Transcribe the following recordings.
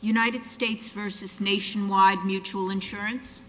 United States versus nationwide mutual insurance. Okay. Okay. Uh huh.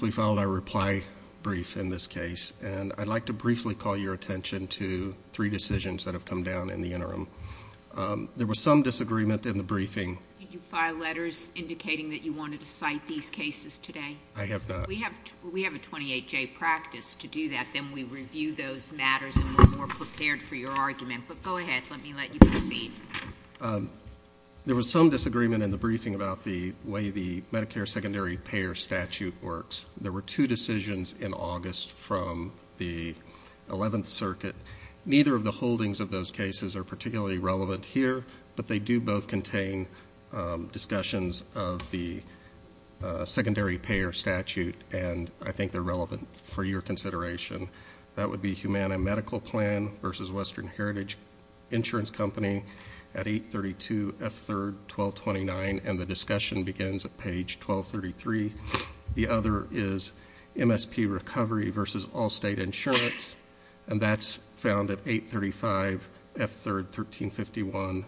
We filed our reply brief in this case, and I'd like to briefly call your attention to three decisions that have come down in the interim. There was some disagreement in the briefing. Did you file letters indicating that you wanted to cite these cases today? I have not. We have a 28-J practice to do that, then we review those matters and we're more prepared for your argument. But go ahead. Let me let you proceed. There was some disagreement in the briefing about the way the Medicare secondary payer statute works. There were two decisions in August from the 11th circuit. Neither of the holdings of those cases are particularly relevant here, but they do both contain discussions of the secondary payer statute, and I think they're relevant for your consideration. That would be Humana Medical Plan versus Western Heritage Insurance Company at 832 F. 3rd, 1229. And the discussion begins at page 1233. The other is MSP Recovery versus All-State Insurance, and that's found at 835 F. 3rd, 1351.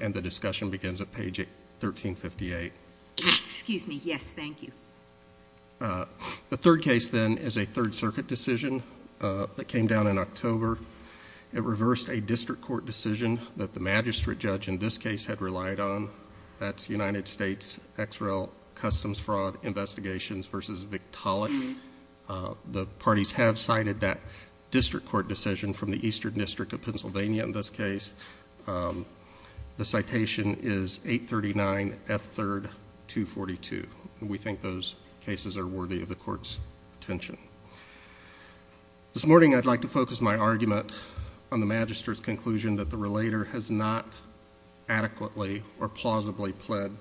And the discussion begins at page 1358. Excuse me, yes, thank you. The third case, then, is a third circuit decision that came down in October. It reversed a district court decision that the magistrate judge in this case had relied on. That's United States XREL Customs Fraud Investigations versus Victaulic. The parties have cited that district court decision from the Eastern District of Pennsylvania in this case. The citation is 839 F. 3rd, 242. We think those cases are worthy of the court's attention. This morning, I'd like to focus my argument on the magistrate's conclusion that the relator has not adequately or plausibly pled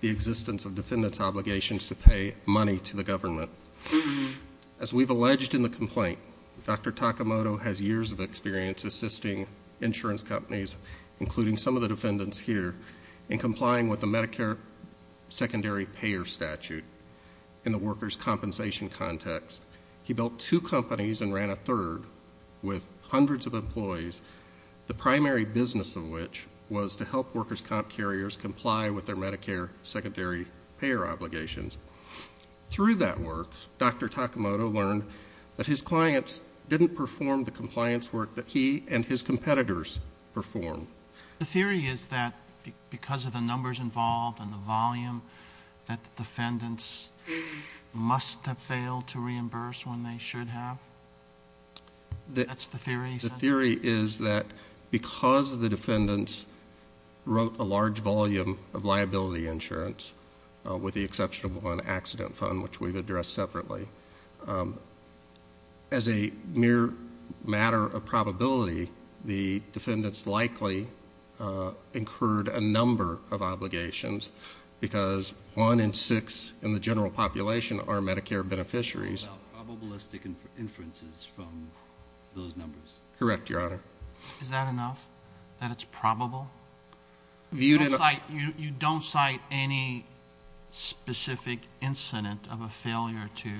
the existence of defendant's obligations to pay money to the government. As we've alleged in the complaint, Dr. Takamoto has years of experience assisting insurance companies, including some of the defendants here, in complying with the Medicare secondary payer statute in the workers' compensation context. He built two companies and ran a third with hundreds of employees, the primary business of which was to help workers' comp carriers comply with their Medicare secondary payer obligations. Through that work, Dr. Takamoto learned that his clients didn't perform the compliance work that he and his competitors performed. The theory is that because of the numbers involved and the volume that the defendants must have failed to reimburse when they should have? That's the theory? The theory is that because the defendants wrote a large volume of liability insurance, with the exception of one accident fund, which we've addressed separately, as a mere matter of probability, the defendants likely incurred a number of obligations, because one in six in the general population are Medicare beneficiaries. Without probabilistic inferences from those numbers? Correct, Your Honor. Is that enough, that it's probable? You don't cite any specific incident of a failure to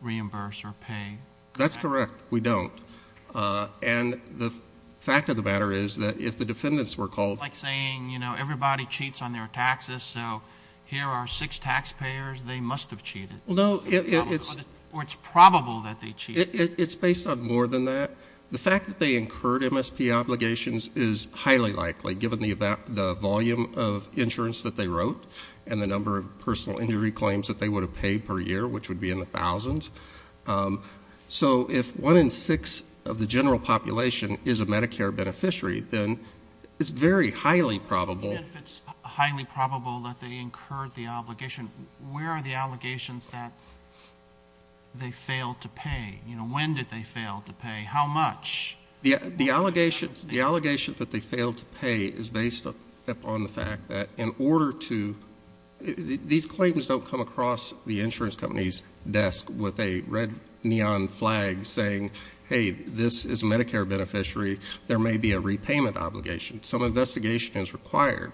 reimburse or pay? That's correct. We don't. And the fact of the matter is that if the defendants were called... Like saying, you know, everybody cheats on their taxes, so here are six taxpayers. They must have cheated. Well, no, it's... Or it's probable that they cheated. It's based on more than that. The fact that they incurred MSP obligations is highly likely, given the volume of insurance that they wrote and the number of personal injury claims that they would have paid per year, which would be in the thousands. So, if one in six of the general population is a Medicare beneficiary, then it's very highly probable... And if it's highly probable that they incurred the obligation, where are the allegations that they failed to pay? You know, when did they fail to pay? How much? The allegations that they failed to pay is based upon the fact that, in order to... These are people with a red neon flag saying, hey, this is a Medicare beneficiary. There may be a repayment obligation. Some investigation is required.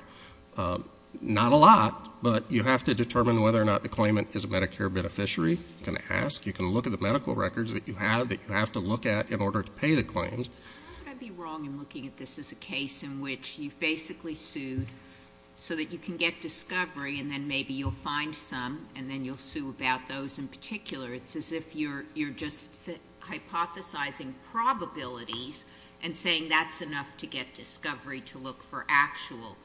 Not a lot, but you have to determine whether or not the claimant is a Medicare beneficiary. You can ask. You can look at the medical records that you have that you have to look at in order to pay the claims. How could I be wrong in looking at this as a case in which you've basically sued so that you can get discovery and then maybe you'll find some and then you'll sue about those in particular? It's as if you're just hypothesizing probabilities and saying that's enough to get discovery to look for actual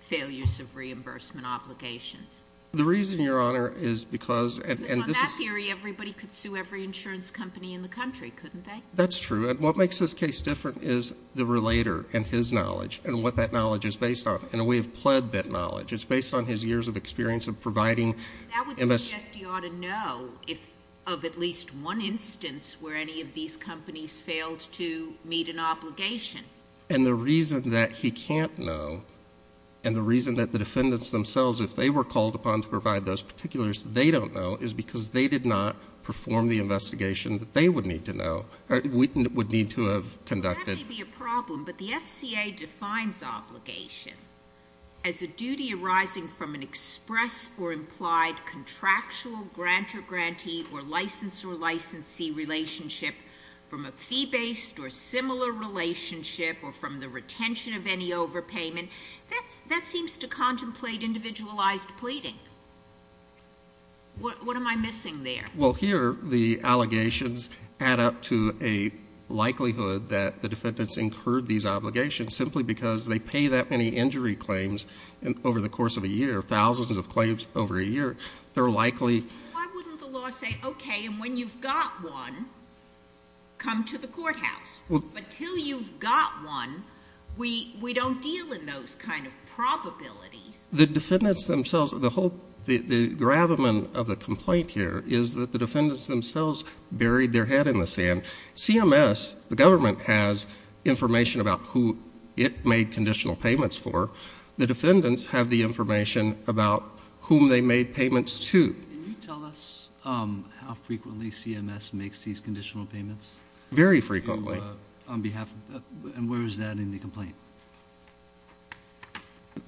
failures of reimbursement obligations. The reason, Your Honor, is because... Because on that theory, everybody could sue every insurance company in the country, couldn't they? That's true. And what makes this case different is the relator and his knowledge and what that knowledge is based on. And we have pled that knowledge. It's based on his years of experience of providing... That would suggest he ought to know of at least one instance where any of these companies failed to meet an obligation. And the reason that he can't know and the reason that the defendants themselves, if they were called upon to provide those particulars, they don't know is because they did not perform the investigation that they would need to know or would need to have conducted. That may be a problem, but the FCA defines obligation as a duty arising from an express or implied contractual grantor-grantee or licensor-licensee relationship from a fee-based or similar relationship or from the retention of any overpayment. That seems to contemplate individualized pleading. What am I missing there? Well, here, the allegations add up to a likelihood that the defendants incurred these obligations simply because they pay that many injury claims over the course of a year, thousands of claims over a year. They're likely... Why wouldn't the law say, okay, and when you've got one, come to the courthouse? Until you've got one, we don't deal in those kind of probabilities. The defendants themselves... the whole... the gravamen of the complaint here is that the defendants themselves buried their head in the sand. CMS, the government, has information about who it made conditional payments for. The defendants have the information about whom they made payments to. Can you tell us how frequently CMS makes these conditional payments? Very frequently. On behalf of... and where is that in the complaint?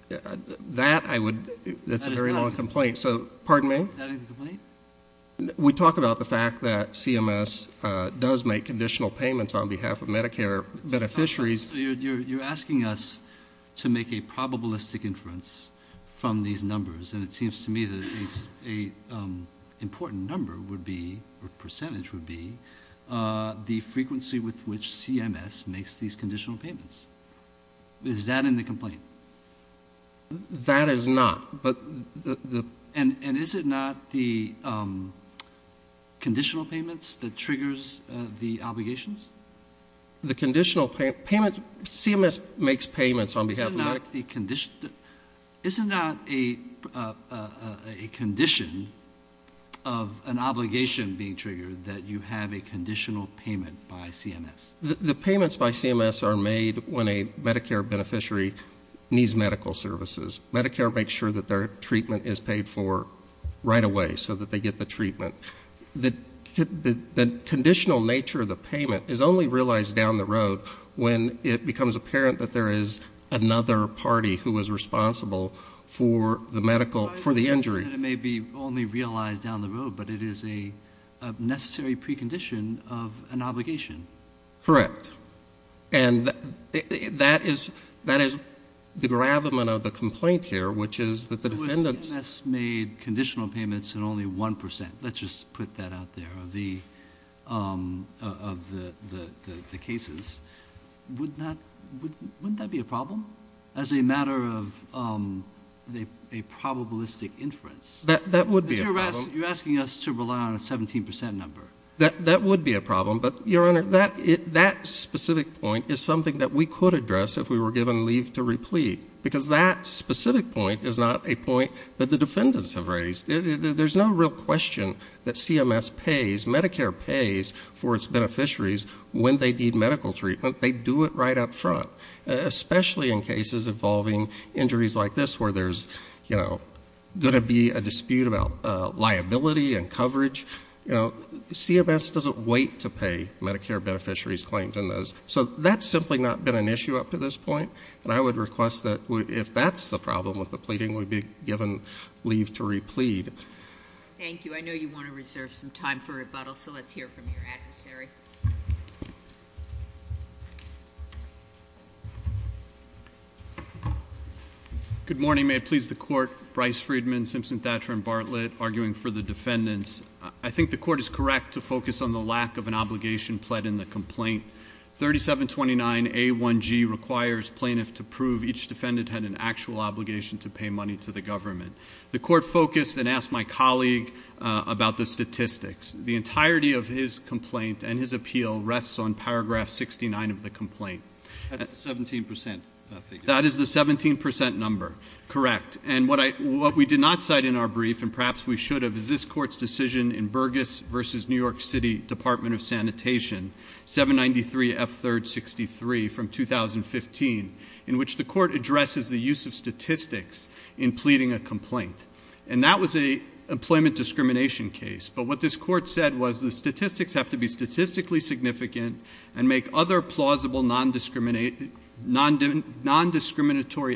That I would... that's a very long complaint. So pardon me? Is that in the complaint? We talk about the fact that CMS does make conditional payments on behalf of Medicare beneficiaries. You're asking us to make a probabilistic inference from these numbers, and it seems to me that an important number would be, or percentage would be, the frequency with which CMS makes these conditional payments. Is that in the complaint? That is not, but... And is it not the conditional payments that triggers the obligations? The conditional payment... CMS makes payments on behalf of... Is it not a condition of an obligation being triggered that you have a conditional payment by CMS? The payments by CMS are made when a Medicare beneficiary needs medical services. Medicare makes sure that their treatment is paid for right away so that they get the treatment. The conditional nature of the payment is only realized down the road when it becomes apparent that there is another party who is responsible for the medical... for the injury. So I understand that it may be only realized down the road, but it is a necessary precondition of an obligation. Correct. And that is the gravamen of the complaint here, which is that the defendants... I'll just put that out there... of the cases, wouldn't that be a problem? As a matter of a probabilistic inference? That would be a problem. You're asking us to rely on a 17% number. That would be a problem, but Your Honor, that specific point is something that we could address if we were given leave to replete, because that specific point is not a point that the defendants have raised. There's no real question that CMS pays... Medicare pays for its beneficiaries when they need medical treatment. They do it right up front, especially in cases involving injuries like this where there's going to be a dispute about liability and coverage. CMS doesn't wait to pay Medicare beneficiaries claims in those. So that's simply not been an issue up to this point, and I would request that if that's the problem with the pleading, we be given leave to replead. Thank you. I know you want to reserve some time for rebuttal, so let's hear from your adversary. Good morning. May it please the Court. Bryce Friedman, Simpson-Thatcher & Bartlett, arguing for the defendants. I think the Court is correct to focus on the lack of an obligation pled in the complaint. 3729A1G requires plaintiffs to prove each defendant had an actual obligation to pay money to the government. The Court focused and asked my colleague about the statistics. The entirety of his complaint and his appeal rests on paragraph 69 of the complaint. That's the 17% figure. That is the 17% number, correct. And what we did not cite in our brief, and perhaps we should have, is this Court's decision in Burgess v. New York City Department of Sanitation, 793F363 from 2015, in which the Court addresses the use of statistics in pleading a complaint. And that was a employment discrimination case. But what this Court said was the statistics have to be statistically significant and make other plausible non-discriminatory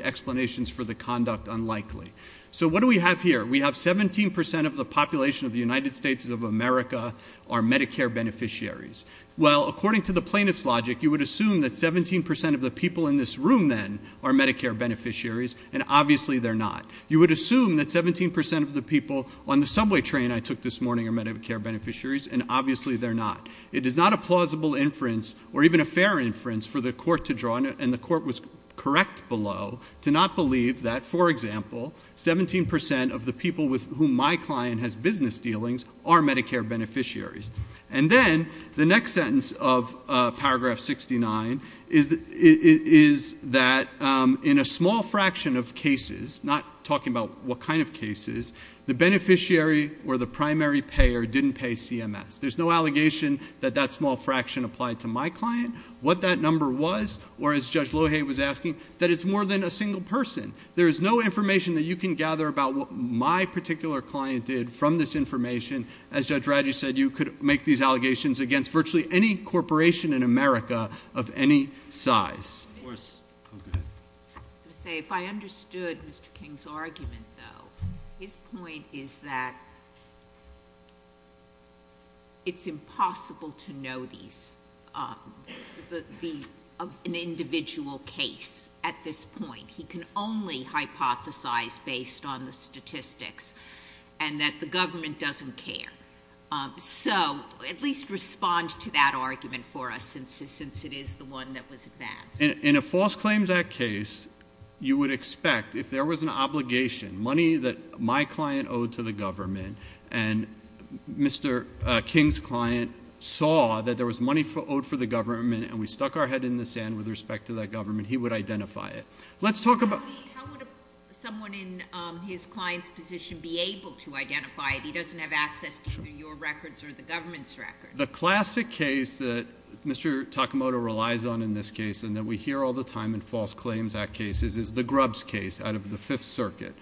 explanations for the conduct unlikely. So what do we have here? We have 17% of the population of the United States of America are Medicare beneficiaries. Well, according to the plaintiff's logic, you would assume that 17% of the people in this room then are Medicare beneficiaries, and obviously they're not. You would assume that 17% of the people on the subway train I took this morning are Medicare beneficiaries, and obviously they're not. It is not a plausible inference, or even a fair inference for the Court to draw, and the Court was correct below, to not believe that, for example, 17% of the people with whom my client has business dealings are Medicare beneficiaries. And then, the next sentence of paragraph 69 is that in a small fraction of cases, not talking about what kind of cases, the beneficiary or the primary payer didn't pay CMS. There's no allegation that that small fraction applied to my client, what that number was, or as Judge Lohay was asking, that it's more than a single person. There is no information that you can gather about what my particular client did from this information. As Judge Radish said, you could make these allegations against virtually any corporation in America of any size. Of course. Go ahead. I was going to say, if I understood Mr. King's argument, though. His point is that, It's impossible to know these. An individual case, at this point. He can only hypothesize based on the statistics, and that the government doesn't care. So, at least respond to that argument for us, since it is the one that was advanced. In a False Claims Act case, you would expect, if there was an obligation, money that my client owed to the government, and Mr. King's money owed for the government, and we stuck our head in the sand with respect to that government, he would identify it. Let's talk about- How would someone in his client's position be able to identify it? He doesn't have access to your records or the government's records. The classic case that Mr. Takamoto relies on in this case, and that we hear all the time in False Claims Act cases, is the Grubbs case out of the Fifth Circuit.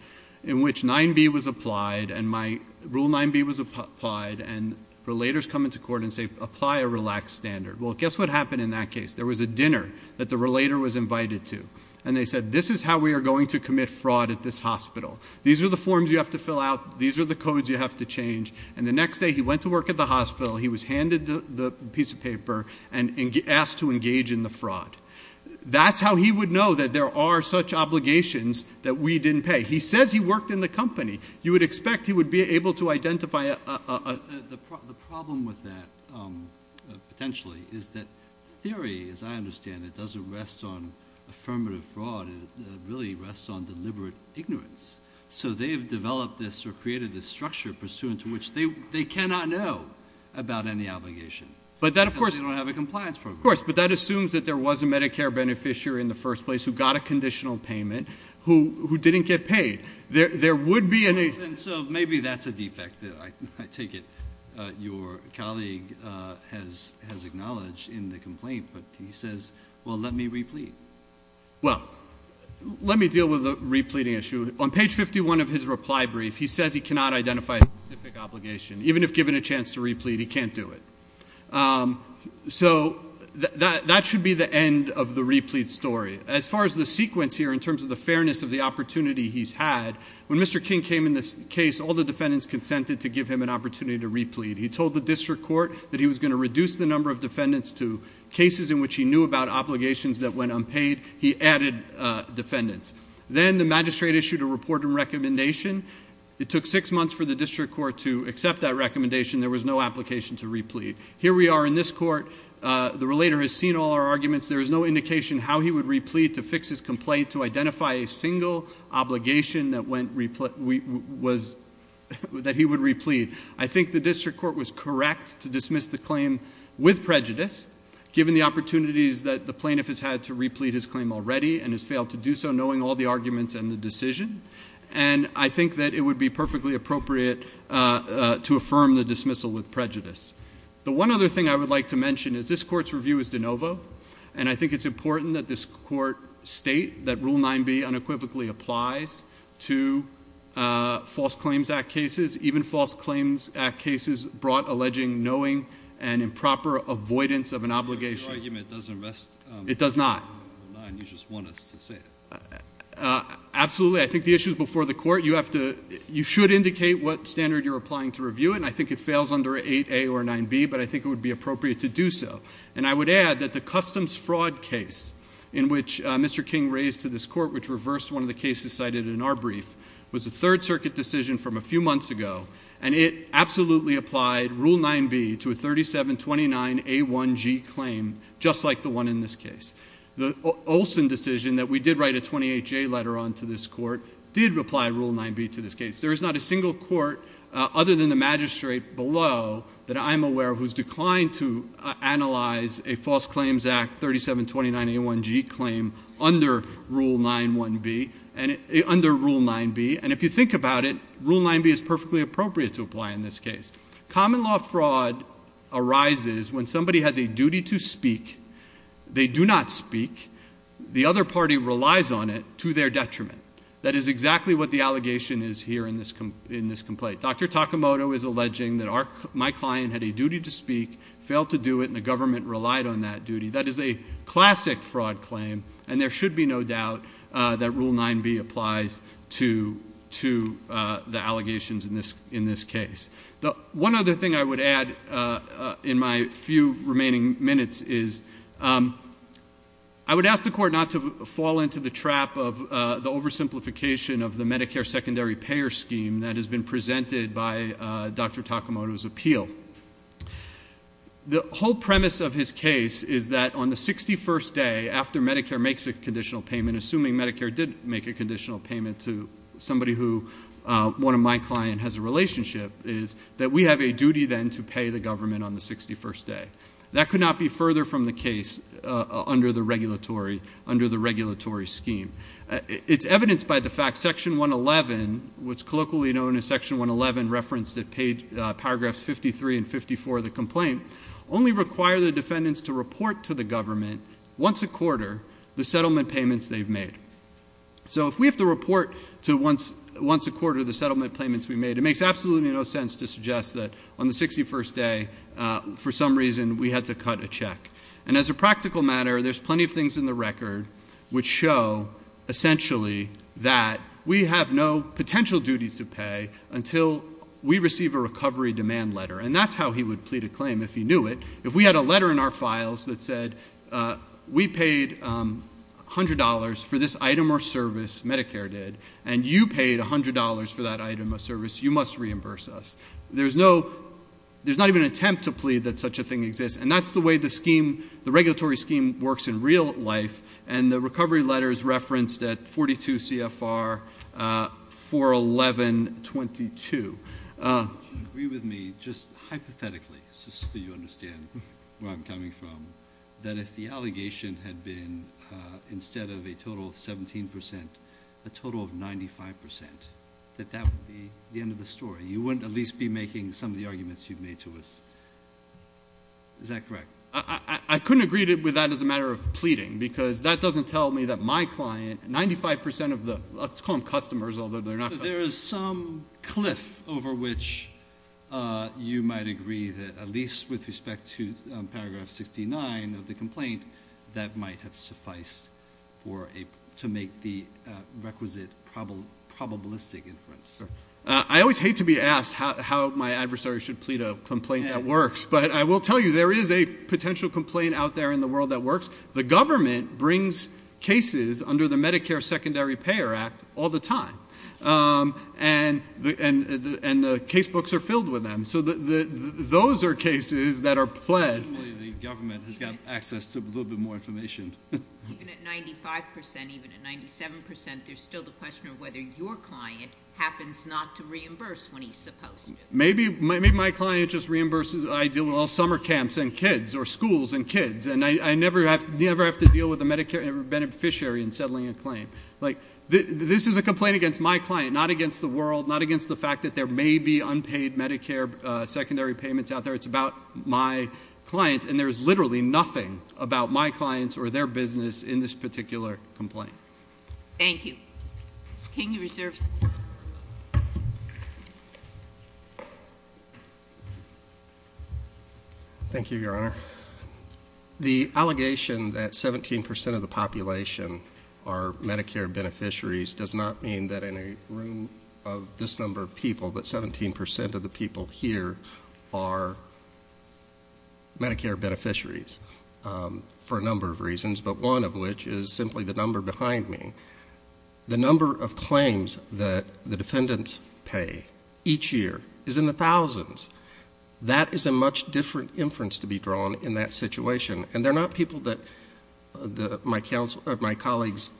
In which 9B was applied, and my rule 9B was applied, and the relators come into court and say, apply a relaxed standard. Well, guess what happened in that case? There was a dinner that the relator was invited to, and they said, this is how we are going to commit fraud at this hospital. These are the forms you have to fill out, these are the codes you have to change. And the next day, he went to work at the hospital, he was handed the piece of paper, and asked to engage in the fraud. That's how he would know that there are such obligations that we didn't pay. He says he worked in the company. You would expect he would be able to identify a- The problem with that, potentially, is that theory, as I understand it, doesn't rest on affirmative fraud, it really rests on deliberate ignorance. So they've developed this or created this structure pursuant to which they cannot know about any obligation. But that of course- Because they don't have a compliance program. Of course, but that assumes that there was a Medicare beneficiary in the first place who got a conditional payment, who didn't get paid. There would be an- And so maybe that's a defect, I take it. Your colleague has acknowledged in the complaint, but he says, well, let me replete. Well, let me deal with the repleting issue. On page 51 of his reply brief, he says he cannot identify a specific obligation. Even if given a chance to replete, he can't do it. So that should be the end of the replete story. As far as the sequence here in terms of the fairness of the opportunity he's had, when Mr. King came in this case, all the defendants consented to give him an opportunity to replete. He told the district court that he was going to reduce the number of defendants to cases in which he knew about obligations that went unpaid. He added defendants. Then the magistrate issued a report and recommendation. It took six months for the district court to accept that recommendation. There was no application to replete. Here we are in this court, the relator has seen all our arguments. There is no indication how he would replete to fix his complaint to identify a single obligation that he would replete. I think the district court was correct to dismiss the claim with prejudice, given the opportunities that the plaintiff has had to replete his claim already and has failed to do so knowing all the arguments and the decision. And I think that it would be perfectly appropriate to affirm the dismissal with prejudice. The one other thing I would like to mention is this court's review is de novo. And I think it's important that this court state that rule 9B unequivocally applies to false claims act cases. Even false claims act cases brought alleging knowing and improper avoidance of an obligation. Your argument doesn't rest. It does not. You just want us to say it. Absolutely, I think the issue is before the court. You should indicate what standard you're applying to review it, and I think it fails under 8A or 9B, but I think it would be appropriate to do so. And I would add that the customs fraud case in which Mr. King raised to this court, which reversed one of the cases cited in our brief, was a third circuit decision from a few months ago. And it absolutely applied rule 9B to a 3729A1G claim, just like the one in this case. The Olson decision that we did write a 28J letter on to this court did apply rule 9B to this case. There is not a single court other than the magistrate below that I'm aware of who's declined to analyze a false claims act 3729A1G claim under rule 9B. And if you think about it, rule 9B is perfectly appropriate to apply in this case. Common law fraud arises when somebody has a duty to speak. They do not speak, the other party relies on it to their detriment. That is exactly what the allegation is here in this complaint. Dr. Takamoto is alleging that my client had a duty to speak, failed to do it, and the government relied on that duty. That is a classic fraud claim, and there should be no doubt that rule 9B applies to the allegations in this case. The one other thing I would add in my few remaining minutes is, I would ask the court not to fall into the trap of the oversimplification of the Medicare secondary payer scheme that has been presented by Dr. Takamoto's appeal. The whole premise of his case is that on the 61st day after Medicare makes a conditional payment, and assuming Medicare did make a conditional payment to somebody who one of my client has a relationship, is that we have a duty then to pay the government on the 61st day. That could not be further from the case under the regulatory scheme. It's evidenced by the fact section 111, what's colloquially known as section 111, referenced in paragraphs 53 and 54 of the complaint, only require the defendants to report to the government once a quarter the settlement payments they've made. So if we have to report to once a quarter the settlement payments we've made, it makes absolutely no sense to suggest that on the 61st day, for some reason, we had to cut a check. And as a practical matter, there's plenty of things in the record which show essentially that we have no potential duty to pay until we receive a recovery demand letter. And that's how he would plead a claim if he knew it. If we had a letter in our files that said, we paid $100 for this item or service, Medicare did. And you paid $100 for that item or service, you must reimburse us. There's not even an attempt to plead that such a thing exists. And that's the way the regulatory scheme works in real life. And the recovery letter is referenced at 42 CFR 41122. Do you agree with me, just hypothetically, just so you understand where I'm coming from, that if the allegation had been, instead of a total of 17%, a total of 95%, that that would be the end of the story? You wouldn't at least be making some of the arguments you've made to us, is that correct? I couldn't agree with that as a matter of pleading, because that doesn't tell me that my client, 95% of the, let's call them customers, although they're not- There is some cliff over which you might agree that, at least with respect to paragraph 69 of the complaint, that might have sufficed to make the requisite probabilistic inference. I always hate to be asked how my adversary should plead a complaint that works. But I will tell you, there is a potential complaint out there in the world that works. The government brings cases under the Medicare Secondary Payer Act all the time. And the case books are filled with them. So those are cases that are pledged. The government has got access to a little bit more information. Even at 95%, even at 97%, there's still the question of whether your client happens not to reimburse when he's supposed to. Maybe my client just reimburses, I deal with all summer camps and kids, or schools and kids. And I never have to deal with a Medicare beneficiary in settling a claim. Like, this is a complaint against my client, not against the world, not against the fact that there may be unpaid Medicare secondary payments out there. It's about my clients, and there's literally nothing about my clients or their business in this particular complaint. Thank you. Can you reserve some time? Thank you, Your Honor. The allegation that 17% of the population are Medicare beneficiaries does not mean that in a room of this number of people, that 17% of the people here are Medicare beneficiaries. For a number of reasons, but one of which is simply the number behind me. The number of claims that the defendants pay each year is in the thousands. That is a much different inference to be drawn in that situation. And they're not people that my colleagues'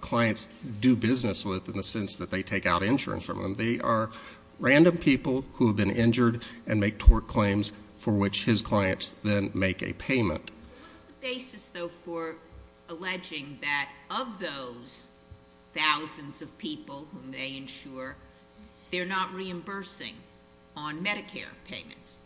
clients do business with in the sense that they take out insurance from them. They are random people who have been injured and make tort claims for which his clients then make a payment. What's the basis, though, for alleging that of those thousands of people whom they insure, they're not reimbursing on Medicare payments?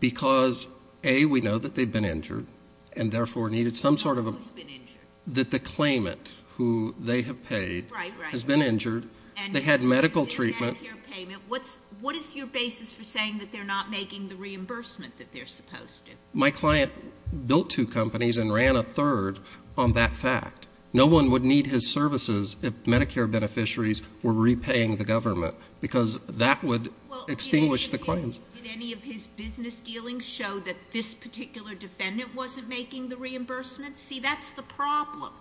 Because, A, we know that they've been injured, and therefore needed some sort of a- Who's been injured? That the claimant who they have paid has been injured, they had medical treatment. And they did a Medicare payment, what is your basis for saying that they're not making the reimbursement that they're supposed to? My client built two companies and ran a third on that fact. No one would need his services if Medicare beneficiaries were repaying the government, because that would extinguish the claims. Did any of his business dealings show that this particular defendant wasn't making the reimbursement? See, that's the problem.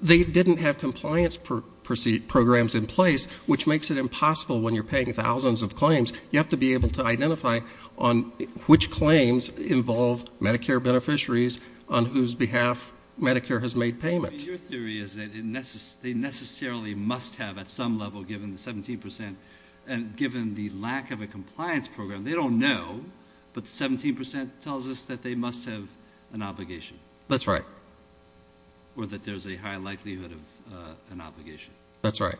They didn't have compliance programs in place, which makes it impossible when you're paying thousands of claims. You have to be able to identify on which claims involve Medicare beneficiaries on whose behalf Medicare has made payments. Your theory is that they necessarily must have at some level, given the 17%, and given the lack of a compliance program. They don't know, but 17% tells us that they must have an obligation. That's right. Or that there's a high likelihood of an obligation. That's right.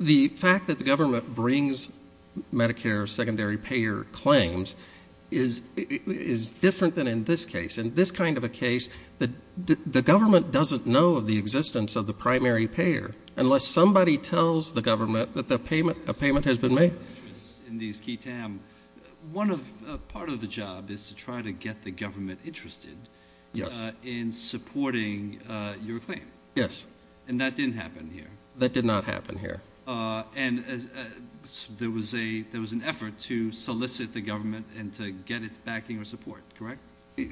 The fact that the government brings Medicare secondary payer claims is different than in this case. In this kind of a case, the government doesn't know of the existence of the primary payer unless somebody tells the government that a payment has been made. In these key TAM, part of the job is to try to get the government interested in supporting your claim. Yes. And that didn't happen here. That did not happen here. And there was an effort to solicit the government and to get its backing or support, correct?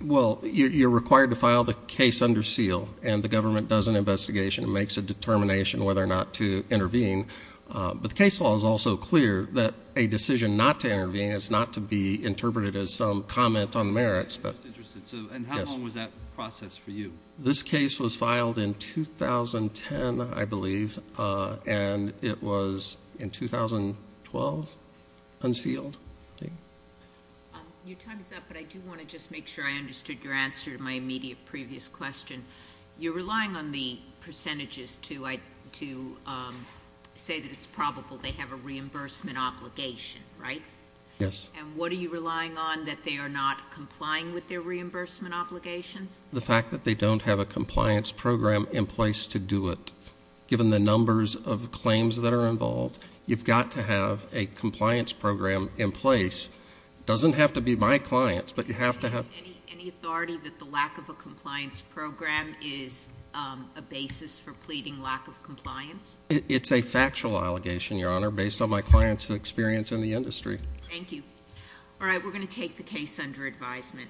Well, you're required to file the case under seal, and the government does an investigation and makes a determination whether or not to intervene. But the case law is also clear that a decision not to intervene is not to be interpreted as some comment on merits. I'm just interested, so and how long was that process for you? This case was filed in 2010, I believe, and it was in 2012 unsealed. Your time is up, but I do want to just make sure I understood your answer to my immediate previous question. You're relying on the percentages to say that it's probable they have a reimbursement obligation, right? Yes. And what are you relying on, that they are not complying with their reimbursement obligations? The fact that they don't have a compliance program in place to do it. Given the numbers of claims that are involved, you've got to have a compliance program in place. Doesn't have to be my clients, but you have to have- Any authority that the lack of a compliance program is a basis for pleading lack of compliance? It's a factual allegation, your honor, based on my client's experience in the industry. Thank you. All right, we're going to take the case under advisement.